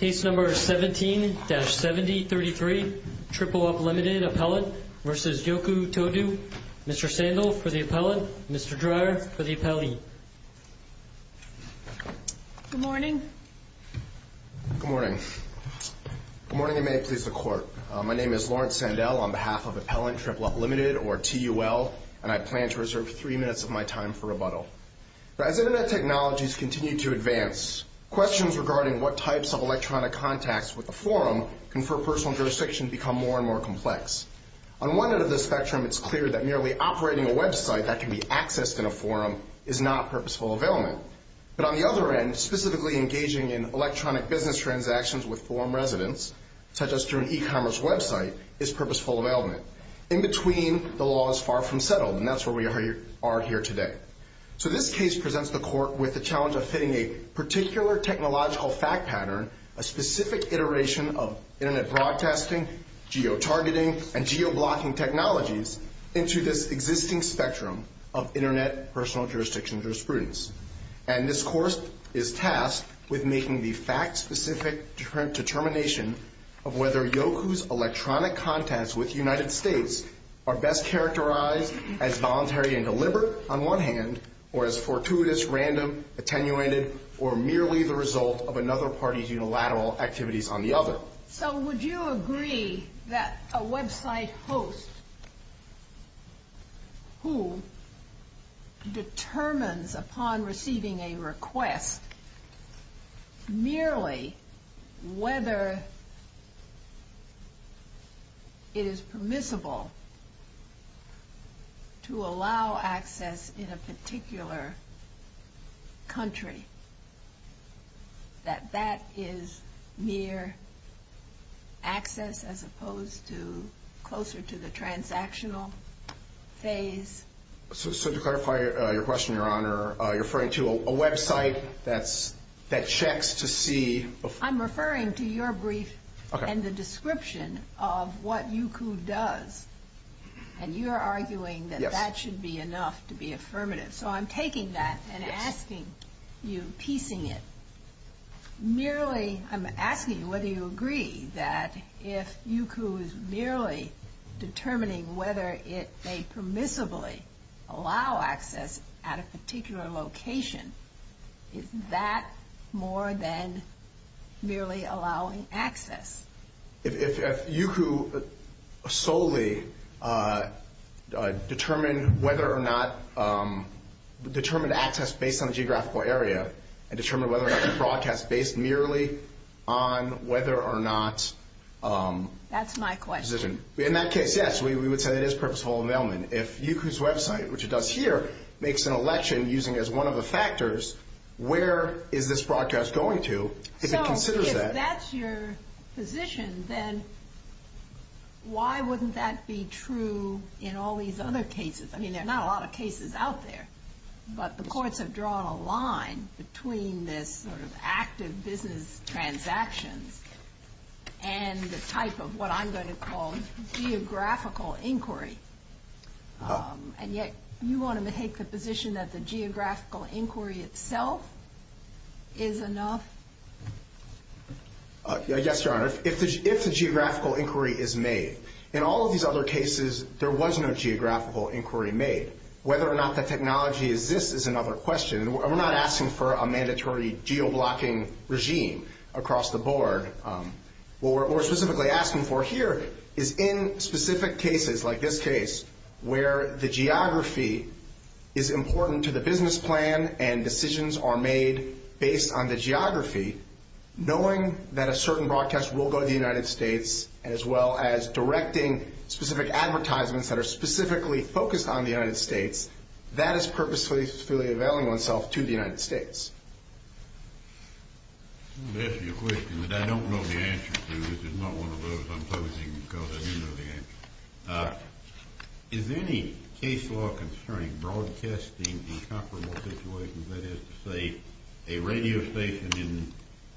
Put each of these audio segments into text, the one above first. Case No. 17-7033, Triple Up Limited Appellant v. Youku Tudou. Mr. Sandell for the appellant, Mr. Dreyer for the appellee. Good morning. Good morning. Good morning and may it please the Court. My name is Lawrence Sandell on behalf of Appellant Triple Up Limited, or TUL, and I plan to reserve three minutes of my time for rebuttal. As Internet technologies continue to advance, questions regarding what types of electronic contacts with a forum confer personal jurisdiction become more and more complex. On one end of the spectrum, it's clear that merely operating a website that can be accessed in a forum is not purposeful availment. But on the other end, specifically engaging in electronic business transactions with forum residents, such as through an e-commerce website, is purposeful availment. In between, the law is far from settled, and that's where we are here today. So this case presents the Court with the challenge of fitting a particular technological fact pattern, a specific iteration of Internet broadcasting, geotargeting, and geoblocking technologies into this existing spectrum of Internet personal jurisdiction jurisprudence. And this Course is tasked with making the fact-specific determination of whether Youku's electronic contacts with the United States are best characterized as voluntary and deliberate on one hand, or as fortuitous, random, attenuated, or merely the result of another party's unilateral activities on the other. So would you agree that a website host who determines upon receiving a request merely whether it is permissible to allow access in a particular country, that that is mere access as opposed to closer to the transactional phase? So to clarify your question, Your Honor, you're referring to a website that checks to see? I'm referring to your brief and the description of what Youku does. And you're arguing that that should be enough to be affirmative. So I'm taking that and asking you, piecing it. I'm asking whether you agree that if Youku is merely determining whether it may permissibly allow access at a particular location, is that more than merely allowing access? If Youku solely determined access based on the geographical area and determined whether or not it broadcasts based merely on whether or not... That's my question. In that case, yes, we would say it is purposeful availment. If Youku's website, which it does here, makes an election using it as one of the factors, where is this broadcast going to if it considers that? So if that's your position, then why wouldn't that be true in all these other cases? I mean, there are not a lot of cases out there, but the courts have drawn a line between this sort of active business transactions and the type of what I'm going to call geographical inquiry. And yet you want to take the position that the geographical inquiry itself is enough? Yes, Your Honor. If the geographical inquiry is made, in all of these other cases, there was no geographical inquiry made. Whether or not that technology exists is another question. We're not asking for a mandatory geo-blocking regime across the board. What we're specifically asking for here is in specific cases like this case, where the geography is important to the business plan and decisions are made based on the geography, knowing that a certain broadcast will go to the United States as well as directing specific advertisements that are specifically focused on the United States, that is purposefully availing oneself to the United States. Let me ask you a question that I don't know the answer to. This is not one of those I'm posing because I don't know the answer. Is any case law concerning broadcasting in comparable situations? That is to say, a radio station in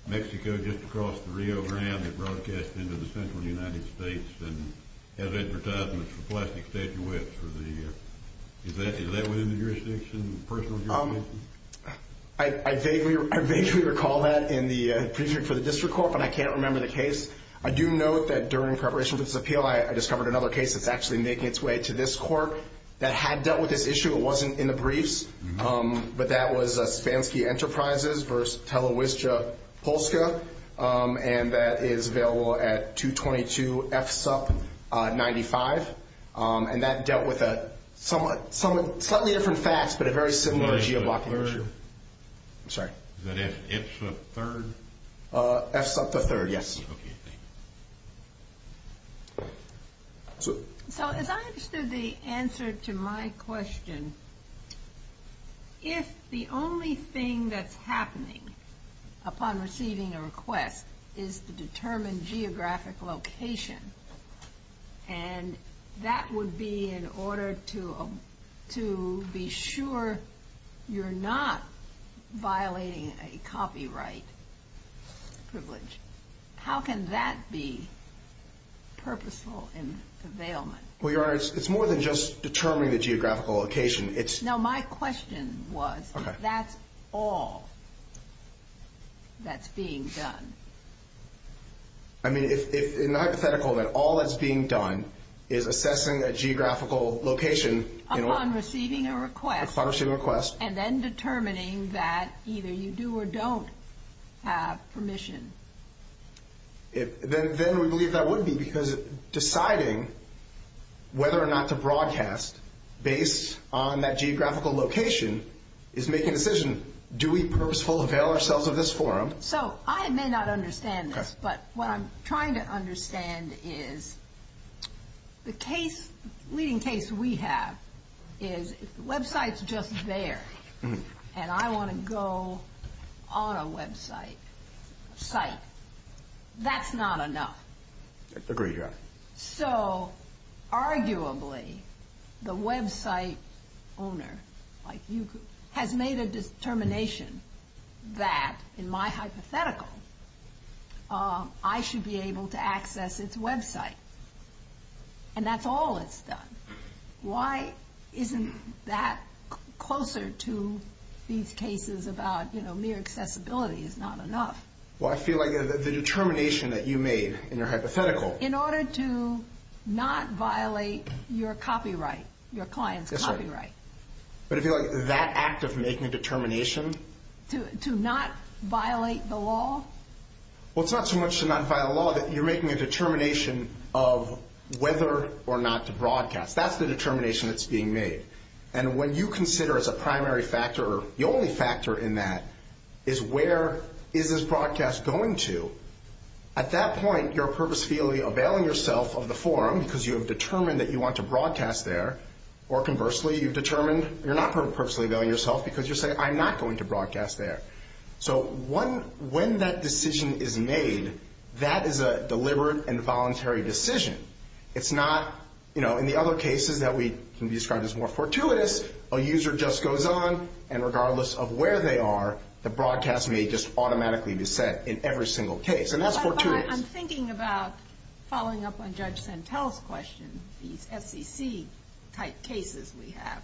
Mexico just across the Rio Grande that broadcasts into the central United States and has advertisements for plastic stage wets. Is that within the jurisdiction, personal jurisdiction? I vaguely recall that in the Prefix for the District Court, but I can't remember the case. I do note that during preparation for this appeal, I discovered another case that's actually making its way to this court that had dealt with this issue. It wasn't in the briefs, but that was Spansky Enterprises v. Telewizja Polska, and that is available at 222-F-SUP-95, and that dealt with some slightly different facts, but a very similar geoblocking issue. I'm sorry. Is that F-SUP-3rd? F-SUP-3rd, yes. Okay, thank you. So as I understood the answer to my question, if the only thing that's happening upon receiving a request is to determine geographic location, and that would be in order to be sure you're not violating a copyright privilege, how can that be purposeful in availment? Well, Your Honor, it's more than just determining the geographical location. No, my question was if that's all that's being done. I mean, in the hypothetical, that all that's being done is assessing a geographical location. Upon receiving a request. Upon receiving a request. And then determining that either you do or don't have permission. Then we believe that would be because deciding whether or not to broadcast based on that geographical location is making a decision. Do we purposefully avail ourselves of this forum? So I may not understand this, but what I'm trying to understand is the case, the leading case we have is the website's just there, and I want to go on a website, a site. That's not enough. Agreed, Your Honor. So arguably the website owner has made a determination that in my hypothetical I should be able to access its website, and that's all it's done. Why isn't that closer to these cases about mere accessibility is not enough? Well, I feel like the determination that you made in your hypothetical. In order to not violate your copyright, your client's copyright. Yes, Your Honor. But I feel like that act of making a determination. To not violate the law? Well, it's not so much to not violate the law, that you're making a determination of whether or not to broadcast. That's the determination that's being made. And when you consider as a primary factor, the only factor in that is where is this broadcast going to, at that point you're purposefully availing yourself of the forum because you have determined that you want to broadcast there, or conversely you've determined you're not purposely availing yourself because you're saying I'm not going to broadcast there. So when that decision is made, that is a deliberate and voluntary decision. It's not, you know, in the other cases that can be described as more fortuitous, a user just goes on and regardless of where they are, the broadcast may just automatically be set in every single case. And that's fortuitous. I'm thinking about following up on Judge Santel's question, these FCC type cases we have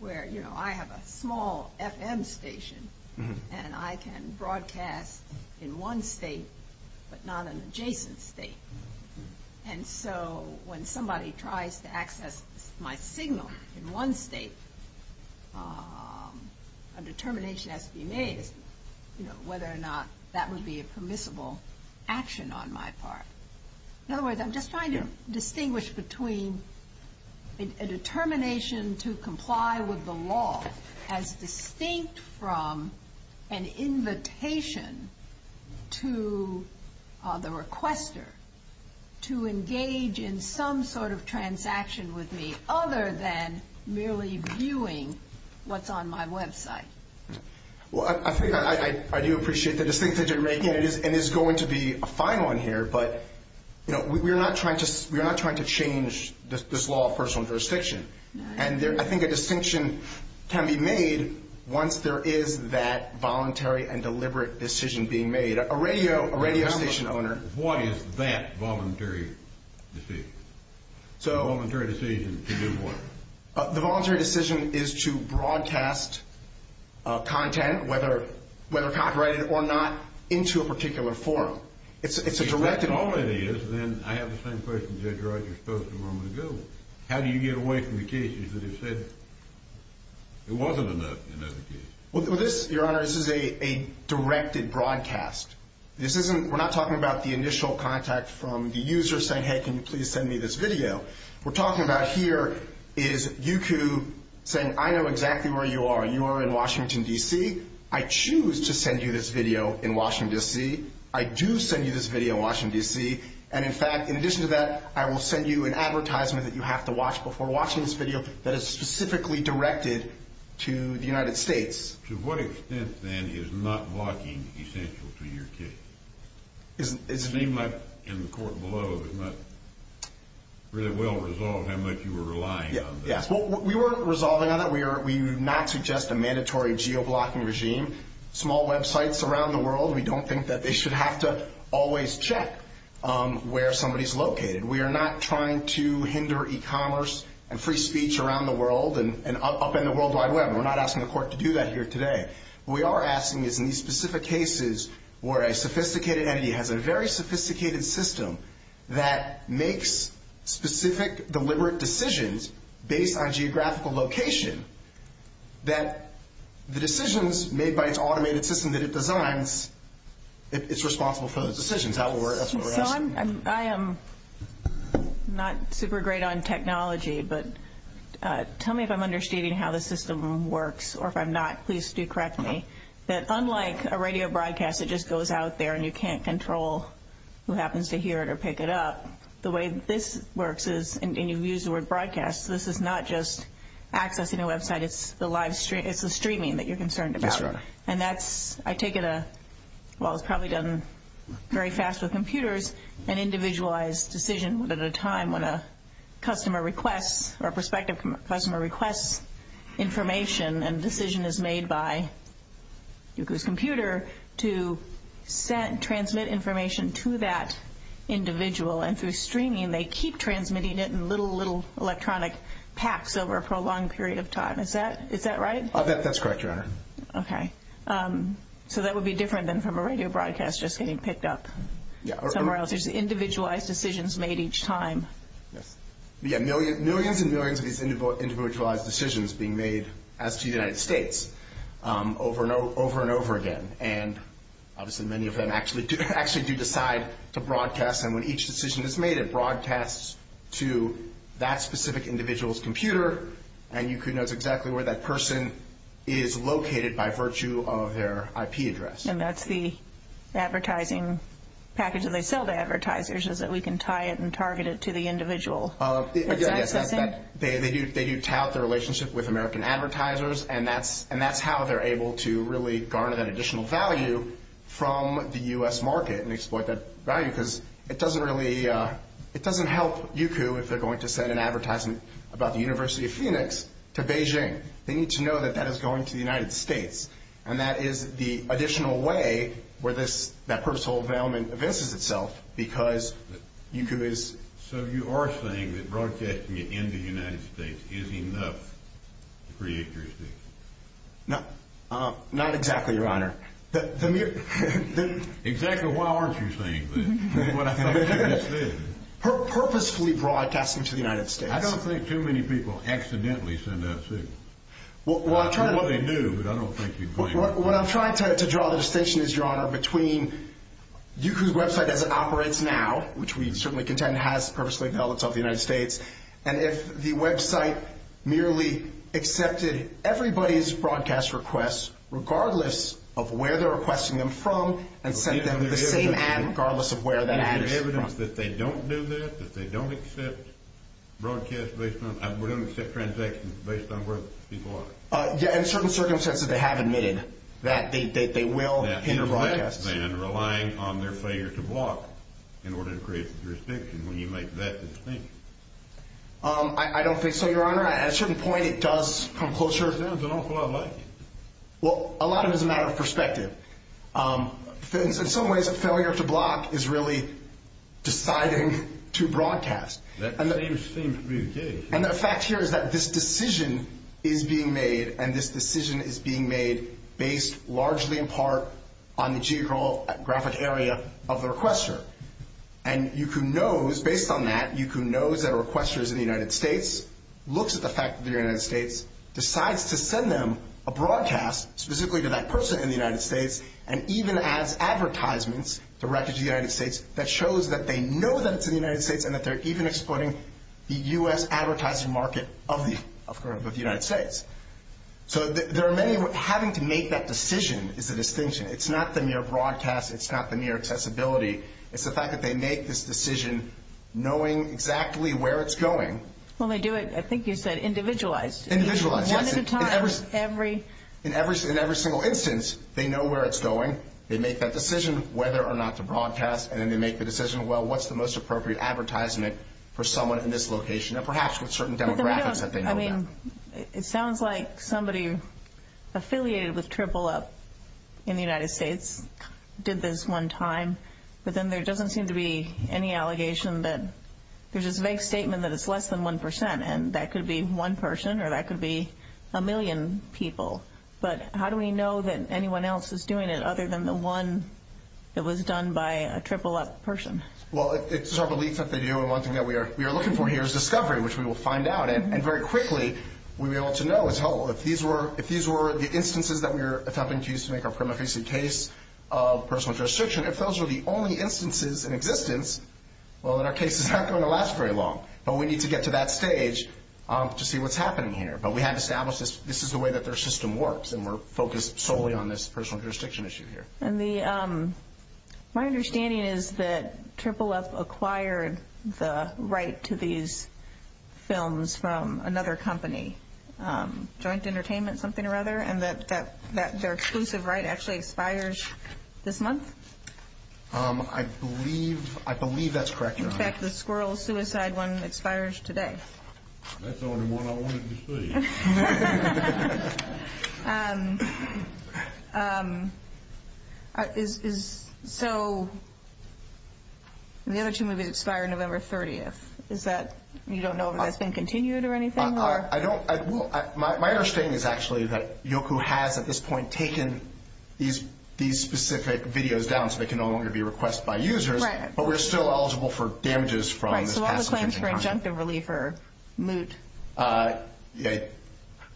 where, you know, I have a small FM station and I can broadcast in one state but not an adjacent state. And so when somebody tries to access my signal in one state, a determination has to be made as to, you know, whether or not that would be a permissible action on my part. In other words, I'm just trying to distinguish between a determination to comply with the law as distinct from an invitation to the requester to engage in some sort of transaction with me other than merely viewing what's on my website. Well, I think I do appreciate the distinction you're making, and it is going to be a fine one here, but, you know, we're not trying to change this law of personal jurisdiction. And I think a distinction can be made once there is that voluntary and deliberate decision being made. A radio station owner... What is that voluntary decision? Voluntary decision to do what? The voluntary decision is to broadcast content, whether copyrighted or not, into a particular forum. If that's all it is, then I have the same question Judge Rogers posed a moment ago. How do you get away from the cases that have said there wasn't enough? Well, this, Your Honor, this is a directed broadcast. We're not talking about the initial contact from the user saying, Hey, can you please send me this video? What we're talking about here is you saying, I know exactly where you are. You are in Washington, D.C. I choose to send you this video in Washington, D.C. I do send you this video in Washington, D.C. And in fact, in addition to that, I will send you an advertisement that you have to watch before watching this video that is specifically directed to the United States. To what extent, then, is not blocking essential to your case? It seemed like in the court below it was not really well resolved how much you were relying on that. Yes, well, we weren't resolving on that. We do not suggest a mandatory geo-blocking regime. Small websites around the world, we don't think that they should have to always check where somebody is located. We are not trying to hinder e-commerce and free speech around the world and upend the World Wide Web. We're not asking the court to do that here today. What we are asking is in these specific cases where a sophisticated entity has a very sophisticated system that makes specific deliberate decisions based on geographical location, that the decisions made by its automated system that it designs, it's responsible for those decisions. That's what we're asking. I am not super great on technology, but tell me if I'm understanding how the system works. Or if I'm not, please do correct me. That unlike a radio broadcast that just goes out there and you can't control who happens to hear it or pick it up, the way this works is, and you've used the word broadcast, this is not just accessing a website, it's the streaming that you're concerned about. That's right. I take it, while it's probably done very fast with computers, an individualized decision at a time when a customer requests or a prospective customer requests information and a decision is made by Google's computer to transmit information to that individual. Through streaming, they keep transmitting it in little, little electronic packs over a prolonged period of time. Is that right? That's correct, Your Honor. Okay. So that would be different than from a radio broadcast just getting picked up somewhere else. There's individualized decisions made each time. Yeah, millions and millions of these individualized decisions being made as to the United States over and over again. And obviously many of them actually do decide to broadcast, and when each decision is made, it broadcasts to that specific individual's computer, and you can know it's exactly where that person is located by virtue of their IP address. And that's the advertising package that they sell to advertisers is that we can tie it and target it to the individual that's accessing? They do tout the relationship with American advertisers, and that's how they're able to really garner that additional value from the U.S. market and exploit that value because it doesn't really help Youku if they're going to send an advertisement about the University of Phoenix to Beijing. They need to know that that is going to the United States, and that is the additional way where that personal development evinces itself because Youku is... So you are saying that broadcasting it in the United States is enough to create jurisdiction? Not exactly, Your Honor. Exactly why aren't you saying that? Purposefully broadcasting to the United States. I don't think too many people accidentally send that signal. It's what they do, but I don't think you'd blame them. What I'm trying to draw the distinction is, Your Honor, between Youku's website as it operates now, which we certainly contend has purposely held itself to the United States, and if the website merely accepted everybody's broadcast requests regardless of where they're requesting them from, and sent them the same ad regardless of where that ad is from. Is there evidence that they don't do this? That they don't accept broadcasts based on... or don't accept transactions based on where people are? Yeah, in certain circumstances they have admitted that they will hinder broadcasts. That's less than relying on their failure to block in order to create jurisdiction when you make that distinction. I don't think so, Your Honor. Your Honor, at a certain point it does come closer. There's an awful lot like it. Well, a lot of it is a matter of perspective. In some ways a failure to block is really deciding to broadcast. That seems really vague. And the fact here is that this decision is being made, and this decision is being made based largely in part on the geographic area of the requester. And Youku knows, based on that, Youku knows that a requester is in the United States, looks at the fact that they're in the United States, decides to send them a broadcast, specifically to that person in the United States, and even adds advertisements directed to the United States that shows that they know that it's in the United States and that they're even exploiting the U.S. advertising market of the United States. So there are many... Having to make that decision is the distinction. It's not the mere broadcast. It's not the mere accessibility. It's the fact that they make this decision knowing exactly where it's going. Well, they do it, I think you said, individualized. Individualized, yes. One at a time, every... In every single instance, they know where it's going. They make that decision whether or not to broadcast, and then they make the decision, well, what's the most appropriate advertisement for someone in this location, and perhaps with certain demographics that they know about. It sounds like somebody affiliated with Triple Up in the United States did this one time, but then there doesn't seem to be any allegation that... There's this vague statement that it's less than 1%, and that could be one person, or that could be a million people. But how do we know that anyone else is doing it other than the one that was done by a Triple Up person? Well, it's our belief that they do, and one thing that we are looking for here is discovery, which we will find out, and very quickly we'll be able to know if these were the instances that we were attempting to use to make our prima facie case of personal jurisdiction. If those were the only instances in existence, well, then our case is not going to last very long. But we need to get to that stage to see what's happening here. But we have established this is the way that their system works, and we're focused solely on this personal jurisdiction issue here. My understanding is that Triple Up acquired the right to these films from another company, Joint Entertainment, something or other, and that their exclusive right actually expires this month? I believe that's correct, Your Honor. In fact, the Squirrel Suicide one expires today. That's the only one I wanted to see. So the other two movies expire November 30th. You don't know if that's been continued or anything? My understanding is actually that Yoku has at this point taken these specific videos down so they can no longer be requested by users, but we're still eligible for damages from this passage in content.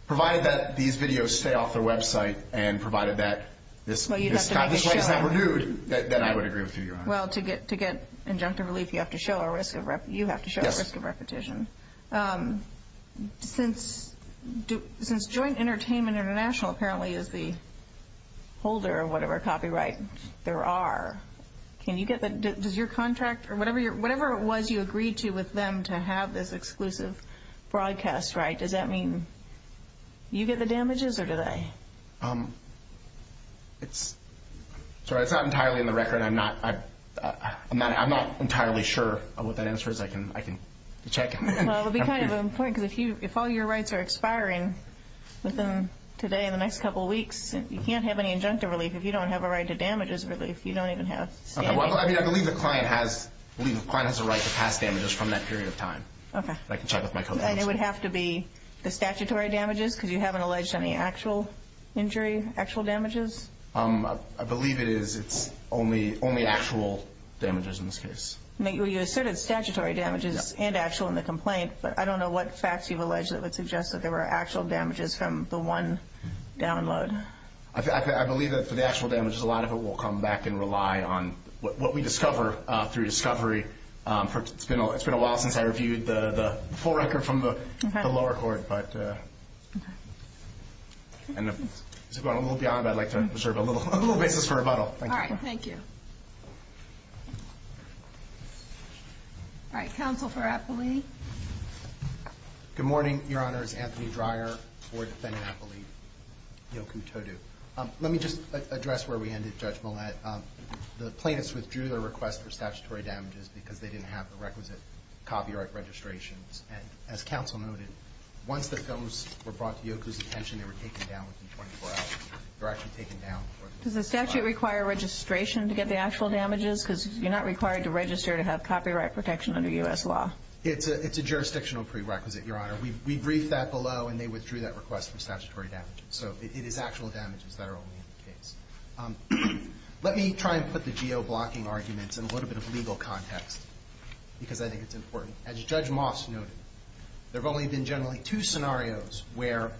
Provided that these videos stay off their website and provided that this right is not renewed, then I would agree with you, Your Honor. Well, to get injunctive relief, you have to show a risk of repetition. Since Joint Entertainment International apparently is the holder of whatever copyright there are, can you get that? Whatever it was you agreed to with them to have this exclusive broadcast right, does that mean you get the damages or do they? Sorry, it's not entirely in the record. I'm not entirely sure what that answer is. I can check. Well, it would be kind of important because if all your rights are expiring within today and the next couple of weeks, you can't have any injunctive relief. If you don't have a right to damages relief, you don't even have standing. Well, I believe the client has a right to pass damages from that period of time. Okay. I can check with my code officer. And it would have to be the statutory damages because you haven't alleged any actual injury, actual damages? I believe it is. It's only actual damages in this case. You asserted statutory damages and actual in the complaint, but I don't know what facts you've alleged that would suggest that there were actual damages from the one download. I believe that for the actual damages, a lot of it will come back and rely on what we discover through discovery. It's been a while since I reviewed the full record from the lower court. Going a little beyond that, I'd like to reserve a little basis for rebuttal. All right, thank you. All right, counsel for Appley. Good morning, Your Honors. Anthony Dreyer, Board Defendant, Appley. Yoku Todu. Let me just address where we ended, Judge Millett. The plaintiffs withdrew their request for statutory damages because they didn't have the requisite copyright registrations. And as counsel noted, once the films were brought to Yoku's attention, they were taken down within 24 hours. They were actually taken down. Does the statute require registration to get the actual damages? Because you're not required to register to have copyright protection under U.S. law. It's a jurisdictional prerequisite, Your Honor. We briefed that below, and they withdrew that request for statutory damages. So it is actual damages that are only in the case. Let me try and put the geo-blocking arguments in a little bit of legal context because I think it's important. As Judge Moss noted, there have only been generally two scenarios where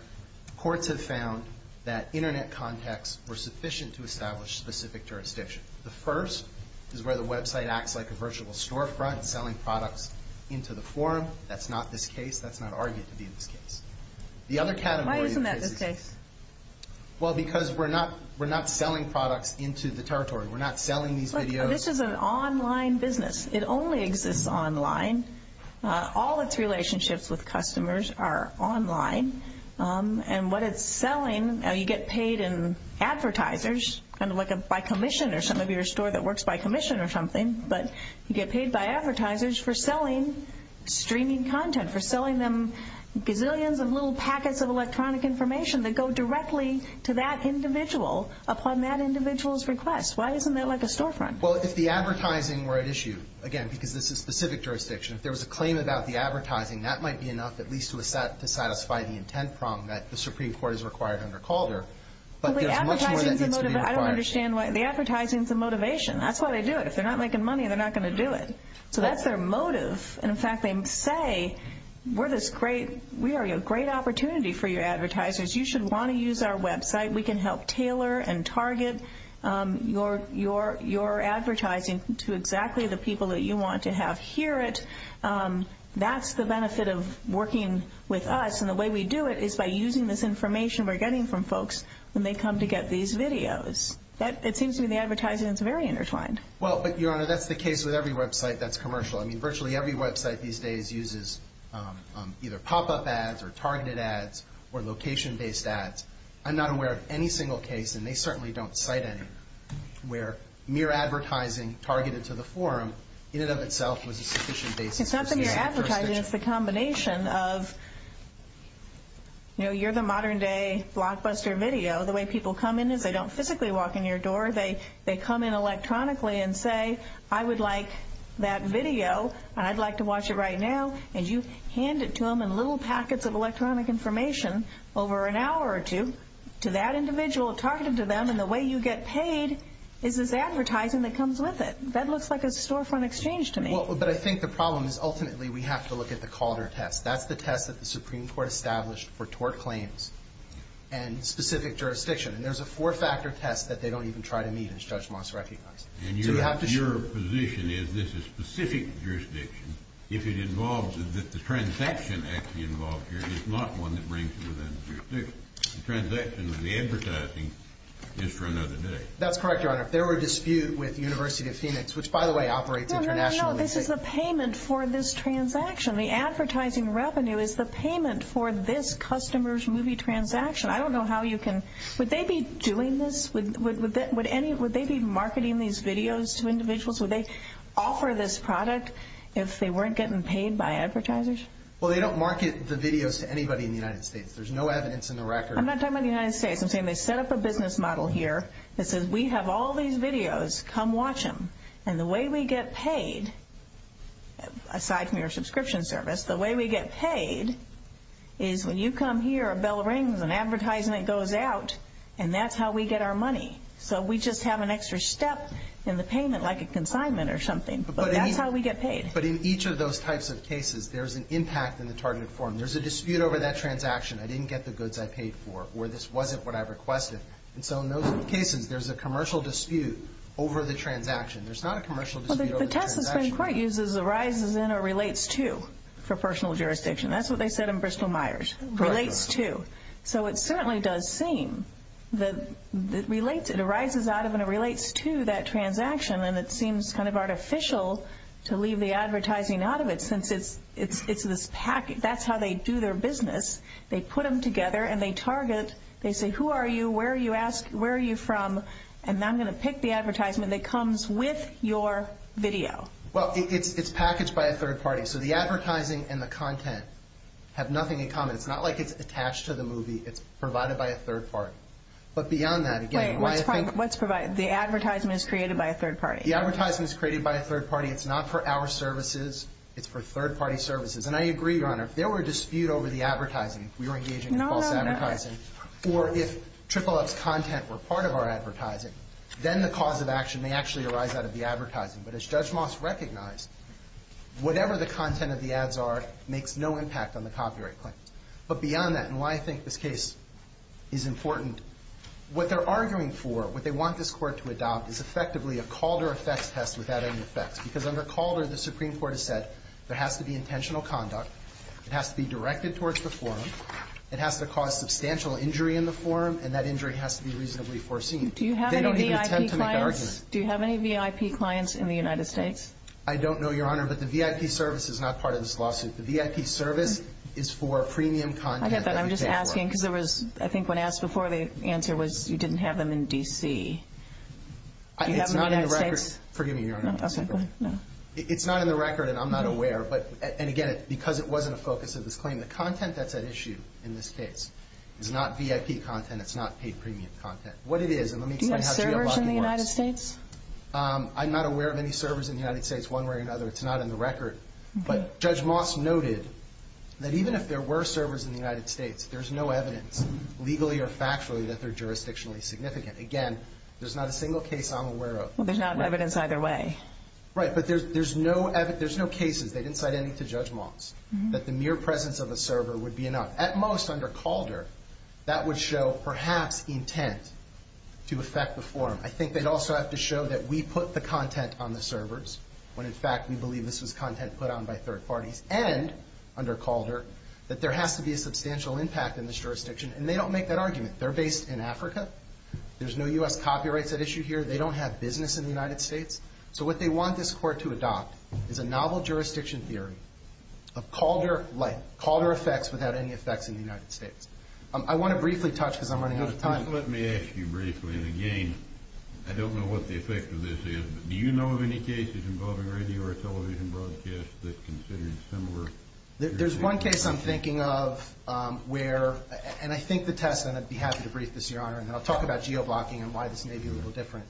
courts have found that Internet contacts were sufficient to establish specific jurisdiction. The first is where the website acts like a virtual storefront, selling products into the forum. That's not this case. That's not argued to be in this case. The other category of cases. Why isn't that this case? Well, because we're not selling products into the territory. We're not selling these videos. Look, this is an online business. It only exists online. All its relationships with customers are online. And what it's selling, you get paid in advertisers, kind of like by commission or some of your store that works by commission or something, but you get paid by advertisers for selling streaming content, for selling them gazillions of little packets of electronic information that go directly to that individual upon that individual's request. Why isn't that like a storefront? Well, if the advertising were at issue, again, because this is specific jurisdiction, if there was a claim about the advertising, that might be enough at least to satisfy the intent prong that the Supreme Court has required under Calder. But there's much more that needs to be required. I don't understand. The advertising is the motivation. That's why they do it. If they're not making money, they're not going to do it. So that's their motive. In fact, they say we are a great opportunity for you advertisers. You should want to use our website. We can help tailor and target your advertising to exactly the people that you want to have hear it. That's the benefit of working with us, and the way we do it is by using this information we're getting from folks when they come to get these videos. It seems to me the advertising is very intertwined. Well, but, Your Honor, that's the case with every website that's commercial. I mean, virtually every website these days uses either pop-up ads or targeted ads or location-based ads. I'm not aware of any single case, and they certainly don't cite any, where mere advertising targeted to the forum in and of itself was a sufficient basis. It's not the mere advertising. It's the combination of, you know, you're the modern-day blockbuster video. The way people come in is they don't physically walk in your door. They come in electronically and say, I would like that video, and I'd like to watch it right now, and you hand it to them in little packets of electronic information over an hour or two to that individual targeted to them, and the way you get paid is this advertising that comes with it. That looks like a storefront exchange to me. Well, but I think the problem is ultimately we have to look at the Calder test. That's the test that the Supreme Court established for tort claims and specific jurisdiction, and there's a four-factor test that they don't even try to meet, as Judge Moss recognized. And your position is this is specific jurisdiction. If it involves that the transaction actually involved here is not one that brings it within the jurisdiction. The transaction with the advertising is for another day. That's correct, Your Honor. If there were a dispute with the University of Phoenix, which, by the way, operates internationally. No, no, no. This is the payment for this transaction. The advertising revenue is the payment for this customer's movie transaction. I don't know how you can. Would they be doing this? Would they be marketing these videos to individuals? Would they offer this product if they weren't getting paid by advertisers? Well, they don't market the videos to anybody in the United States. There's no evidence in the record. I'm not talking about the United States. I'm saying they set up a business model here that says we have all these videos. Come watch them. And the way we get paid, aside from your subscription service, the way we get paid is when you come here, a bell rings, an advertisement goes out, and that's how we get our money. So we just have an extra step in the payment, like a consignment or something. But that's how we get paid. But in each of those types of cases, there's an impact in the targeted form. There's a dispute over that transaction. I didn't get the goods I paid for, or this wasn't what I requested. And so in those cases, there's a commercial dispute over the transaction. There's not a commercial dispute over the transaction. What Tess has been quite used as arises in or relates to for personal jurisdiction. That's what they said in Bristol-Myers. Relates to. So it certainly does seem that it arises out of and it relates to that transaction, and it seems kind of artificial to leave the advertising out of it since it's this package. That's how they do their business. They put them together, and they target. They say, Who are you? Where are you from? And I'm going to pick the advertisement that comes with your video. Well, it's packaged by a third party. So the advertising and the content have nothing in common. It's not like it's attached to the movie. It's provided by a third party. But beyond that, again. Wait, what's provided? The advertisement is created by a third party. The advertisement is created by a third party. It's not for our services. It's for third-party services. And I agree, Your Honor. If there were a dispute over the advertising, if we were engaging in false advertising, or if Triple Up's content were part of our advertising, then the cause of action may actually arise out of the advertising. But as Judge Moss recognized, whatever the content of the ads are makes no impact on the copyright claim. But beyond that, and why I think this case is important, what they're arguing for, what they want this Court to adopt, is effectively a Calder effects test without any effects. Because under Calder, the Supreme Court has said there has to be intentional conduct. It has to be directed towards the forum. It has to cause substantial injury in the forum. And that injury has to be reasonably foreseen. Do you have any VIP clients? They don't even attempt to make an argument. Do you have any VIP clients in the United States? I don't know, Your Honor. But the VIP service is not part of this lawsuit. The VIP service is for premium content. I get that. I'm just asking because there was, I think when asked before, the answer was you didn't have them in D.C. Do you have them in the United States? It's not in the record. Forgive me, Your Honor. It's not in the record, and I'm not aware. But, and again, because it wasn't a focus of this claim, the content that's at issue in this case is not VIP content. It's not paid premium content. What it is, and let me explain how GEOBOC works. Do you have servers in the United States? I'm not aware of any servers in the United States, one way or another. It's not in the record. But Judge Moss noted that even if there were servers in the United States, there's no evidence, legally or factually, that they're jurisdictionally significant. Again, there's not a single case I'm aware of. Well, there's not evidence either way. Right. But there's no cases. They didn't cite any to Judge Moss, that the mere presence of a server would be enough. At most, under Calder, that would show, perhaps, intent to affect the forum. I think they'd also have to show that we put the content on the servers, when, in fact, we believe this was content put on by third parties, and, under Calder, that there has to be a substantial impact in this jurisdiction. And they don't make that argument. They're based in Africa. There's no U.S. copyrights at issue here. They don't have business in the United States. So what they want this court to adopt is a novel jurisdiction theory of Calder-like, Calder effects without any effects in the United States. I want to briefly touch, because I'm running out of time. Let me ask you briefly, and, again, I don't know what the effect of this is, but do you know of any cases involving radio or television broadcast that's considered similar? There's one case I'm thinking of where, and I think the test, and I'd be happy to brief this, Your Honor, and then I'll talk about geoblocking and why this may be a little different.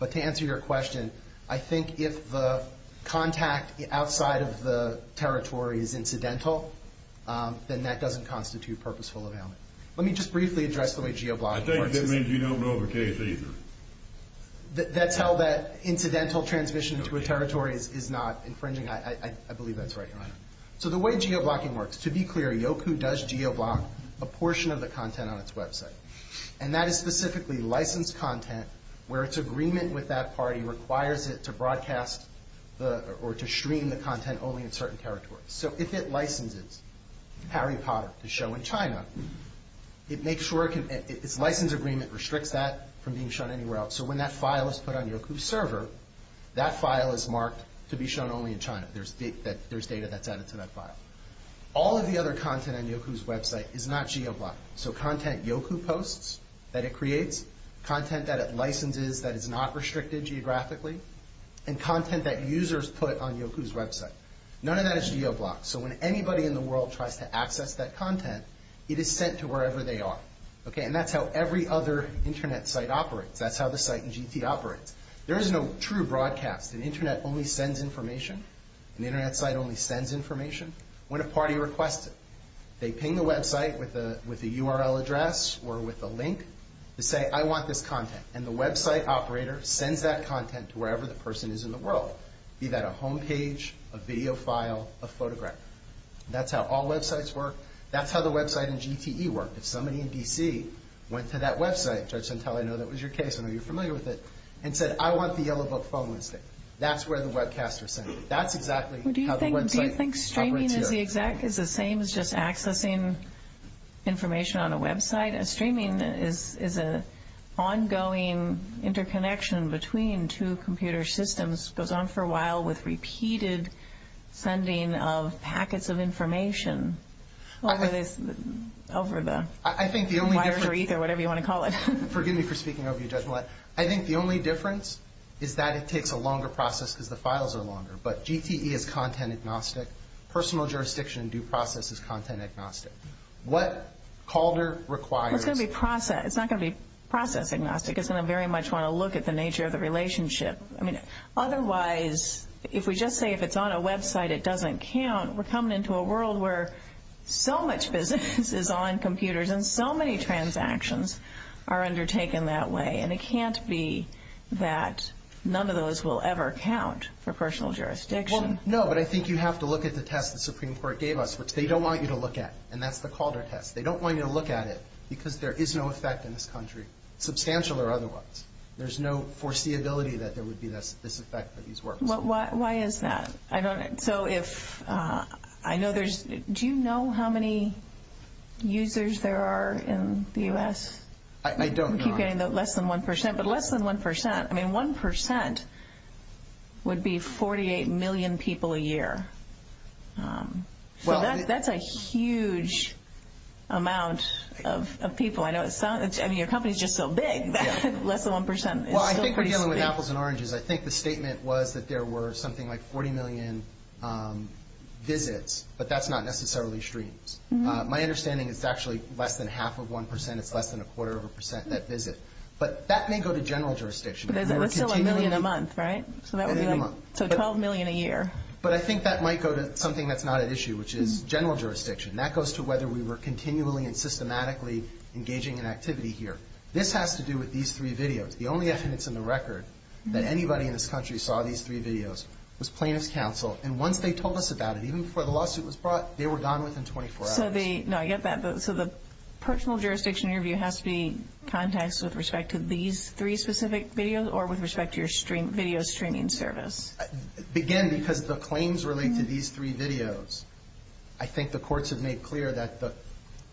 But to answer your question, I think if the contact outside of the territory is incidental, then that doesn't constitute purposeful availment. Let me just briefly address the way geoblocking works. I think that means you don't know of a case either. That's how that incidental transmission to a territory is not infringing. I believe that's right, Your Honor. So the way geoblocking works, to be clear, YOCU does geoblock a portion of the content on its website, and that is specifically licensed content where its agreement with that party requires it to broadcast or to stream the content only in certain territories. So if it licenses Harry Potter to show in China, its license agreement restricts that from being shown anywhere else. So when that file is put on YOCU's server, that file is marked to be shown only in China. There's data that's added to that file. All of the other content on YOCU's website is not geoblocked. So content YOCU posts that it creates, content that it licenses that is not restricted geographically, and content that users put on YOCU's website. None of that is geoblocked. So when anybody in the world tries to access that content, it is sent to wherever they are. And that's how every other Internet site operates. That's how the site in GT operates. There is no true broadcast. An Internet only sends information. An Internet site only sends information when a party requests it. They ping the website with a URL address or with a link to say, I want this content, and the website operator sends that content to wherever the person is in the world. Be that a home page, a video file, a photograph. That's how all websites work. That's how the website in GTE worked. If somebody in D.C. went to that website, Judge Santelli, I know that was your case, I know you're familiar with it, and said, I want the Yellow Book phone listing, that's where the webcasters send it. That's exactly how the website operates here. So is that the same as just accessing information on a website? Streaming is an ongoing interconnection between two computer systems. It goes on for a while with repeated sending of packets of information over the wire or ether, whatever you want to call it. Forgive me for speaking over you, Judge Millett. I think the only difference is that it takes a longer process because the files are longer. But GTE is content agnostic. Personal jurisdiction and due process is content agnostic. What Calder requires. It's not going to be process agnostic. It's going to very much want to look at the nature of the relationship. Otherwise, if we just say if it's on a website it doesn't count, we're coming into a world where so much business is on computers and so many transactions are undertaken that way. And it can't be that none of those will ever count for personal jurisdiction. No, but I think you have to look at the test the Supreme Court gave us, which they don't want you to look at, and that's the Calder test. They don't want you to look at it because there is no effect in this country, substantial or otherwise. There's no foreseeability that there would be this effect for these workers. Why is that? I don't know. So if I know there's do you know how many users there are in the U.S.? I don't know. We keep getting less than 1%, but less than 1%. I mean, 1% would be 48 million people a year. So that's a huge amount of people. I mean, your company is just so big that less than 1% is still pretty small. Well, I think we're dealing with apples and oranges. I think the statement was that there were something like 40 million visits, but that's not necessarily streams. My understanding is it's actually less than half of 1%. It's less than a quarter of a percent that visit. But that may go to general jurisdiction. But it's still a million a month, right? A million a month. So 12 million a year. But I think that might go to something that's not at issue, which is general jurisdiction. That goes to whether we were continually and systematically engaging in activity here. This has to do with these three videos. The only evidence in the record that anybody in this country saw these three videos was plaintiff's counsel. And once they told us about it, even before the lawsuit was brought, they were gone within 24 hours. No, I get that. So the personal jurisdiction interview has to be context with respect to these three specific videos or with respect to your video streaming service? Again, because the claims relate to these three videos, I think the courts have made clear that the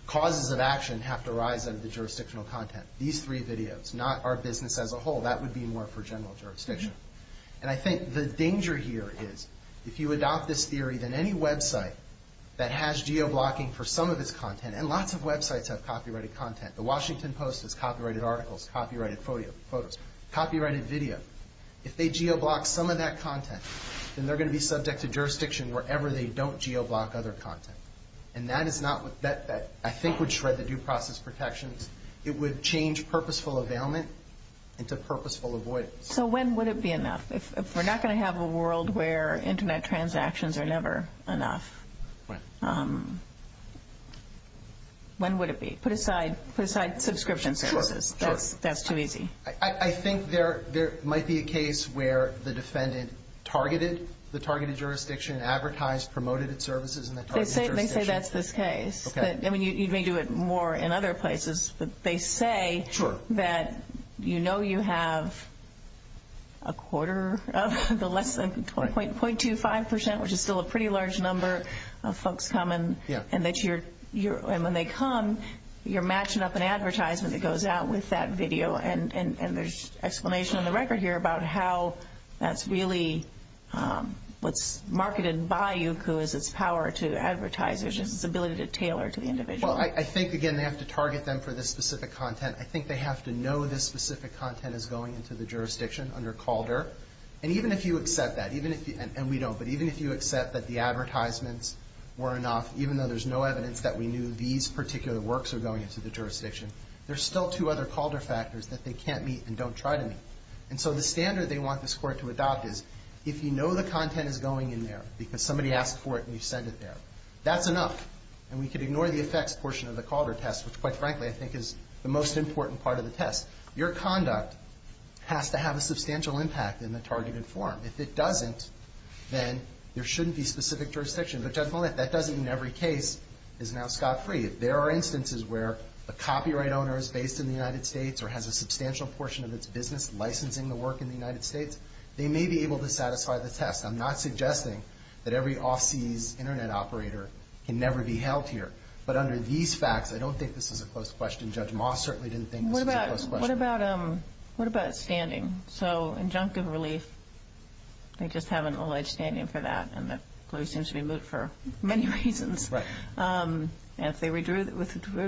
causes of action have to arise out of the jurisdictional content. These three videos, not our business as a whole. That would be more for general jurisdiction. And I think the danger here is if you adopt this theory, then any website that has geoblocking for some of its content, and lots of websites have copyrighted content. The Washington Post has copyrighted articles, copyrighted photos, copyrighted video. If they geoblock some of that content, then they're going to be subject to jurisdiction wherever they don't geoblock other content. And that, I think, would shred the due process protections. It would change purposeful availment into purposeful avoidance. So when would it be enough? If we're not going to have a world where Internet transactions are never enough, when would it be? Put aside subscription services. Sure. That's too easy. I think there might be a case where the defendant targeted the targeted jurisdiction, advertised, promoted its services in the targeted jurisdiction. They say that's this case. Okay. I mean, you may do it more in other places, but they say that you know you have a quarter of the lesson, 0.25%, which is still a pretty large number of folks coming, and when they come, you're matching up an advertisement that goes out with that video. And there's explanation on the record here about how that's really what's marketed by Youku is its power to advertise, its ability to tailor to the individual. Well, I think, again, they have to target them for this specific content. I think they have to know this specific content is going into the jurisdiction under Calder. And even if you accept that, even if you – and we don't, but even if you accept that the advertisements were enough, even though there's no evidence that we knew these particular works were going into the jurisdiction, there's still two other Calder factors that they can't meet and don't try to meet. And so the standard they want this Court to adopt is if you know the content is going in there because somebody asked for it and you sent it there, that's enough, and we could ignore the effects portion of the Calder test, which, quite frankly, I think is the most important part of the test. Your conduct has to have a substantial impact in the targeted form. If it doesn't, then there shouldn't be specific jurisdiction. But, Judge Mollett, that doesn't mean every case is now scot-free. If there are instances where a copyright owner is based in the United States or has a substantial portion of its business licensing the work in the United States, they may be able to satisfy the test. I'm not suggesting that every off-seas Internet operator can never be held here. But under these facts, I don't think this is a close question. Judge Mollett certainly didn't think this was a close question. What about standing? So injunctive relief, they just haven't alleged standing for that, and the plea seems to be moot for many reasons. Right. And if they withdrew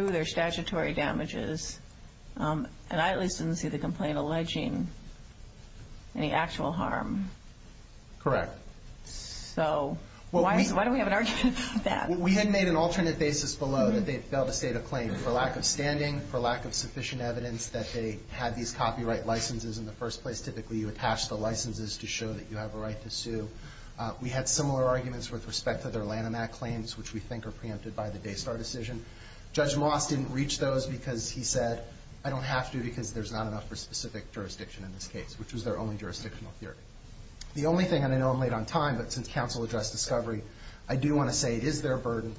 their statutory damages, and I at least didn't see the complaint alleging any actual harm. Correct. So why do we have an argument for that? We had made an alternate basis below that they'd failed to state a claim for lack of standing, for lack of sufficient evidence that they had these copyright licenses in the first place. Typically, you attach the licenses to show that you have a right to sue. We had similar arguments with respect to their Lanham Act claims, which we think are preempted by the Daystar decision. Judge Moss didn't reach those because he said, I don't have to because there's not enough for specific jurisdiction in this case, which was their only jurisdictional theory. The only thing, and I know I'm late on time, but since counsel addressed discovery, I do want to say it is their burden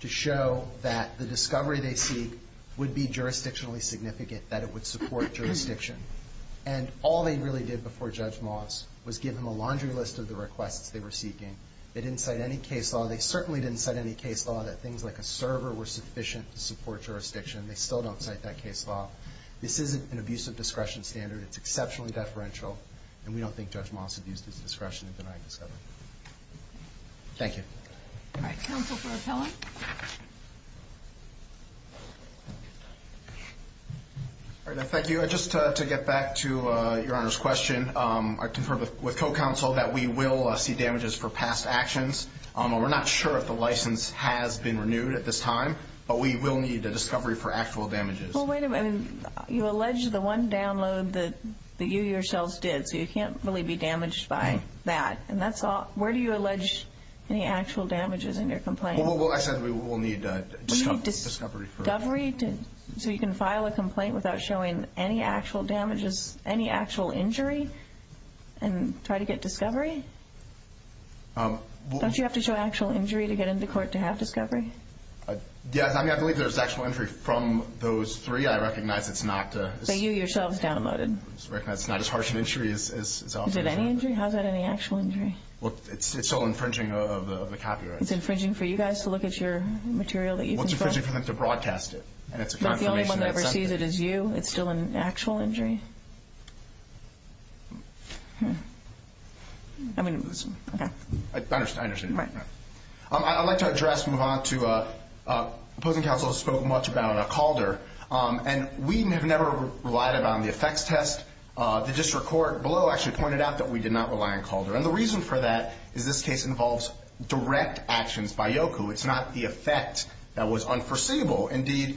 to show that the discovery they seek would be jurisdictionally significant, that it would support jurisdiction. And all they really did before Judge Moss was give him a laundry list of the requests they were seeking. They didn't cite any case law. They certainly didn't cite any case law that things like a server were sufficient to support jurisdiction. They still don't cite that case law. This isn't an abuse of discretion standard. It's exceptionally deferential, and we don't think Judge Moss abused his discretion in denying discovery. Thank you. All right, counsel for appellant. Thank you. Just to get back to Your Honor's question, I concur with co-counsel that we will see damages for past actions. We're not sure if the license has been renewed at this time, but we will need a discovery for actual damages. Well, wait a minute. You allege the one download that you yourselves did, so you can't really be damaged by that. And that's all. Where do you allege any actual damages in your complaint? Well, I said we will need discovery first. So you can file a complaint without showing any actual damages, any actual injury, and try to get discovery? Don't you have to show actual injury to get into court to have discovery? Yes. I mean, I believe there's actual injury from those three. I recognize it's not as harsh an injury as often. Is it any injury? How is that any actual injury? Well, it's still infringing of the copyrights. It's infringing for you guys to look at your material that you've installed? Well, it's infringing for them to broadcast it. And it's a confirmation that it's sent to you. So if the only one that ever sees it is you, it's still an actual injury? I mean, okay. I understand. Right. I'd like to address and move on to opposing counsel spoke much about Calder. And we have never relied upon the effects test. The district court below actually pointed out that we did not rely on Calder. And the reason for that is this case involves direct actions by Yoku. It's not the effect that was unforeseeable. Indeed,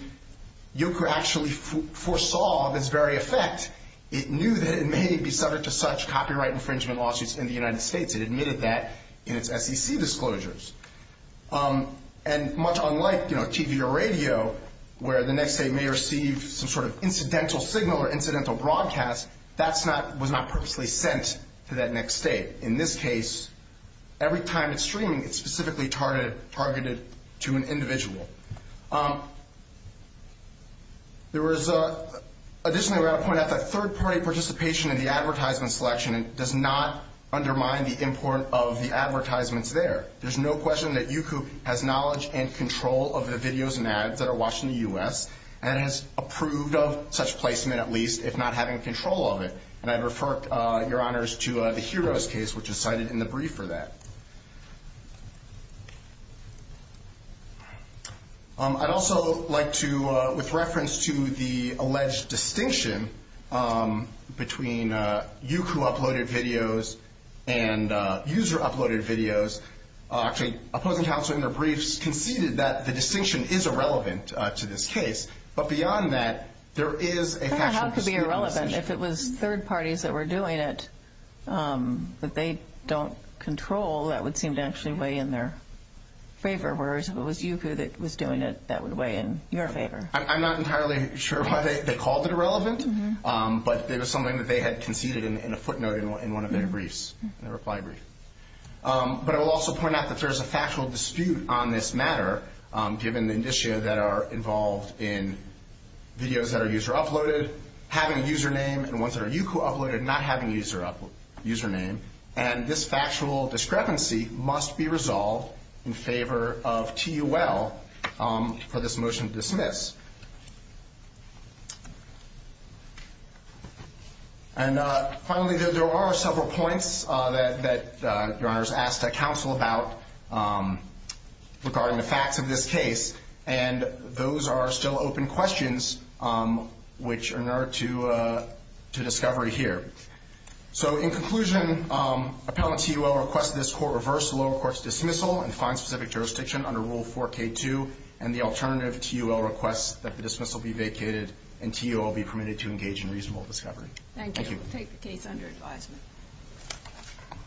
Yoku actually foresaw this very effect. It knew that it may be subject to such copyright infringement lawsuits in the United States. It admitted that in its SEC disclosures. And much unlike, you know, TV or radio, where the next state may receive some sort of incidental signal or incidental broadcast, that was not purposely sent to that next state. In this case, every time it's streaming, it's specifically targeted to an individual. Additionally, we have to point out that third-party participation in the advertisement selection does not undermine the import of the advertisements there. There's no question that Yoku has knowledge and control of the videos and ads that are watched in the U.S. and has approved of such placement, at least, if not having control of it. And I'd refer your honors to the Heroes case, which is cited in the brief for that. I'd also like to, with reference to the alleged distinction between Yoku-uploaded videos and user-uploaded videos, actually, opposing counsel in their briefs conceded that the distinction is irrelevant to this case. But beyond that, there is a factual procedural distinction. How could it be irrelevant if it was third parties that were doing it that they don't control? That would seem to actually weigh in their favor. Whereas if it was Yoku that was doing it, that would weigh in your favor. I'm not entirely sure why they called it irrelevant, but it was something that they had conceded in a footnote in one of their briefs, their reply brief. But I will also point out that there is a factual dispute on this matter, given the indicia that are involved in videos that are user-uploaded having a username and ones that are Yoku-uploaded not having a username. And this factual discrepancy must be resolved in favor of T.U.L. for this motion to dismiss. And finally, there are several points that Your Honor has asked that counsel about regarding the facts of this case. And those are still open questions which are in order to discovery here. So in conclusion, appellant T.U.L. requests this court reverse the lower court's dismissal and find specific jurisdiction under Rule 4K2, and the alternative T.U.L. requests that the dismissal be vacated and T.U.L. be permitted to engage in reasonable discovery. Thank you. We'll take the case under advisement.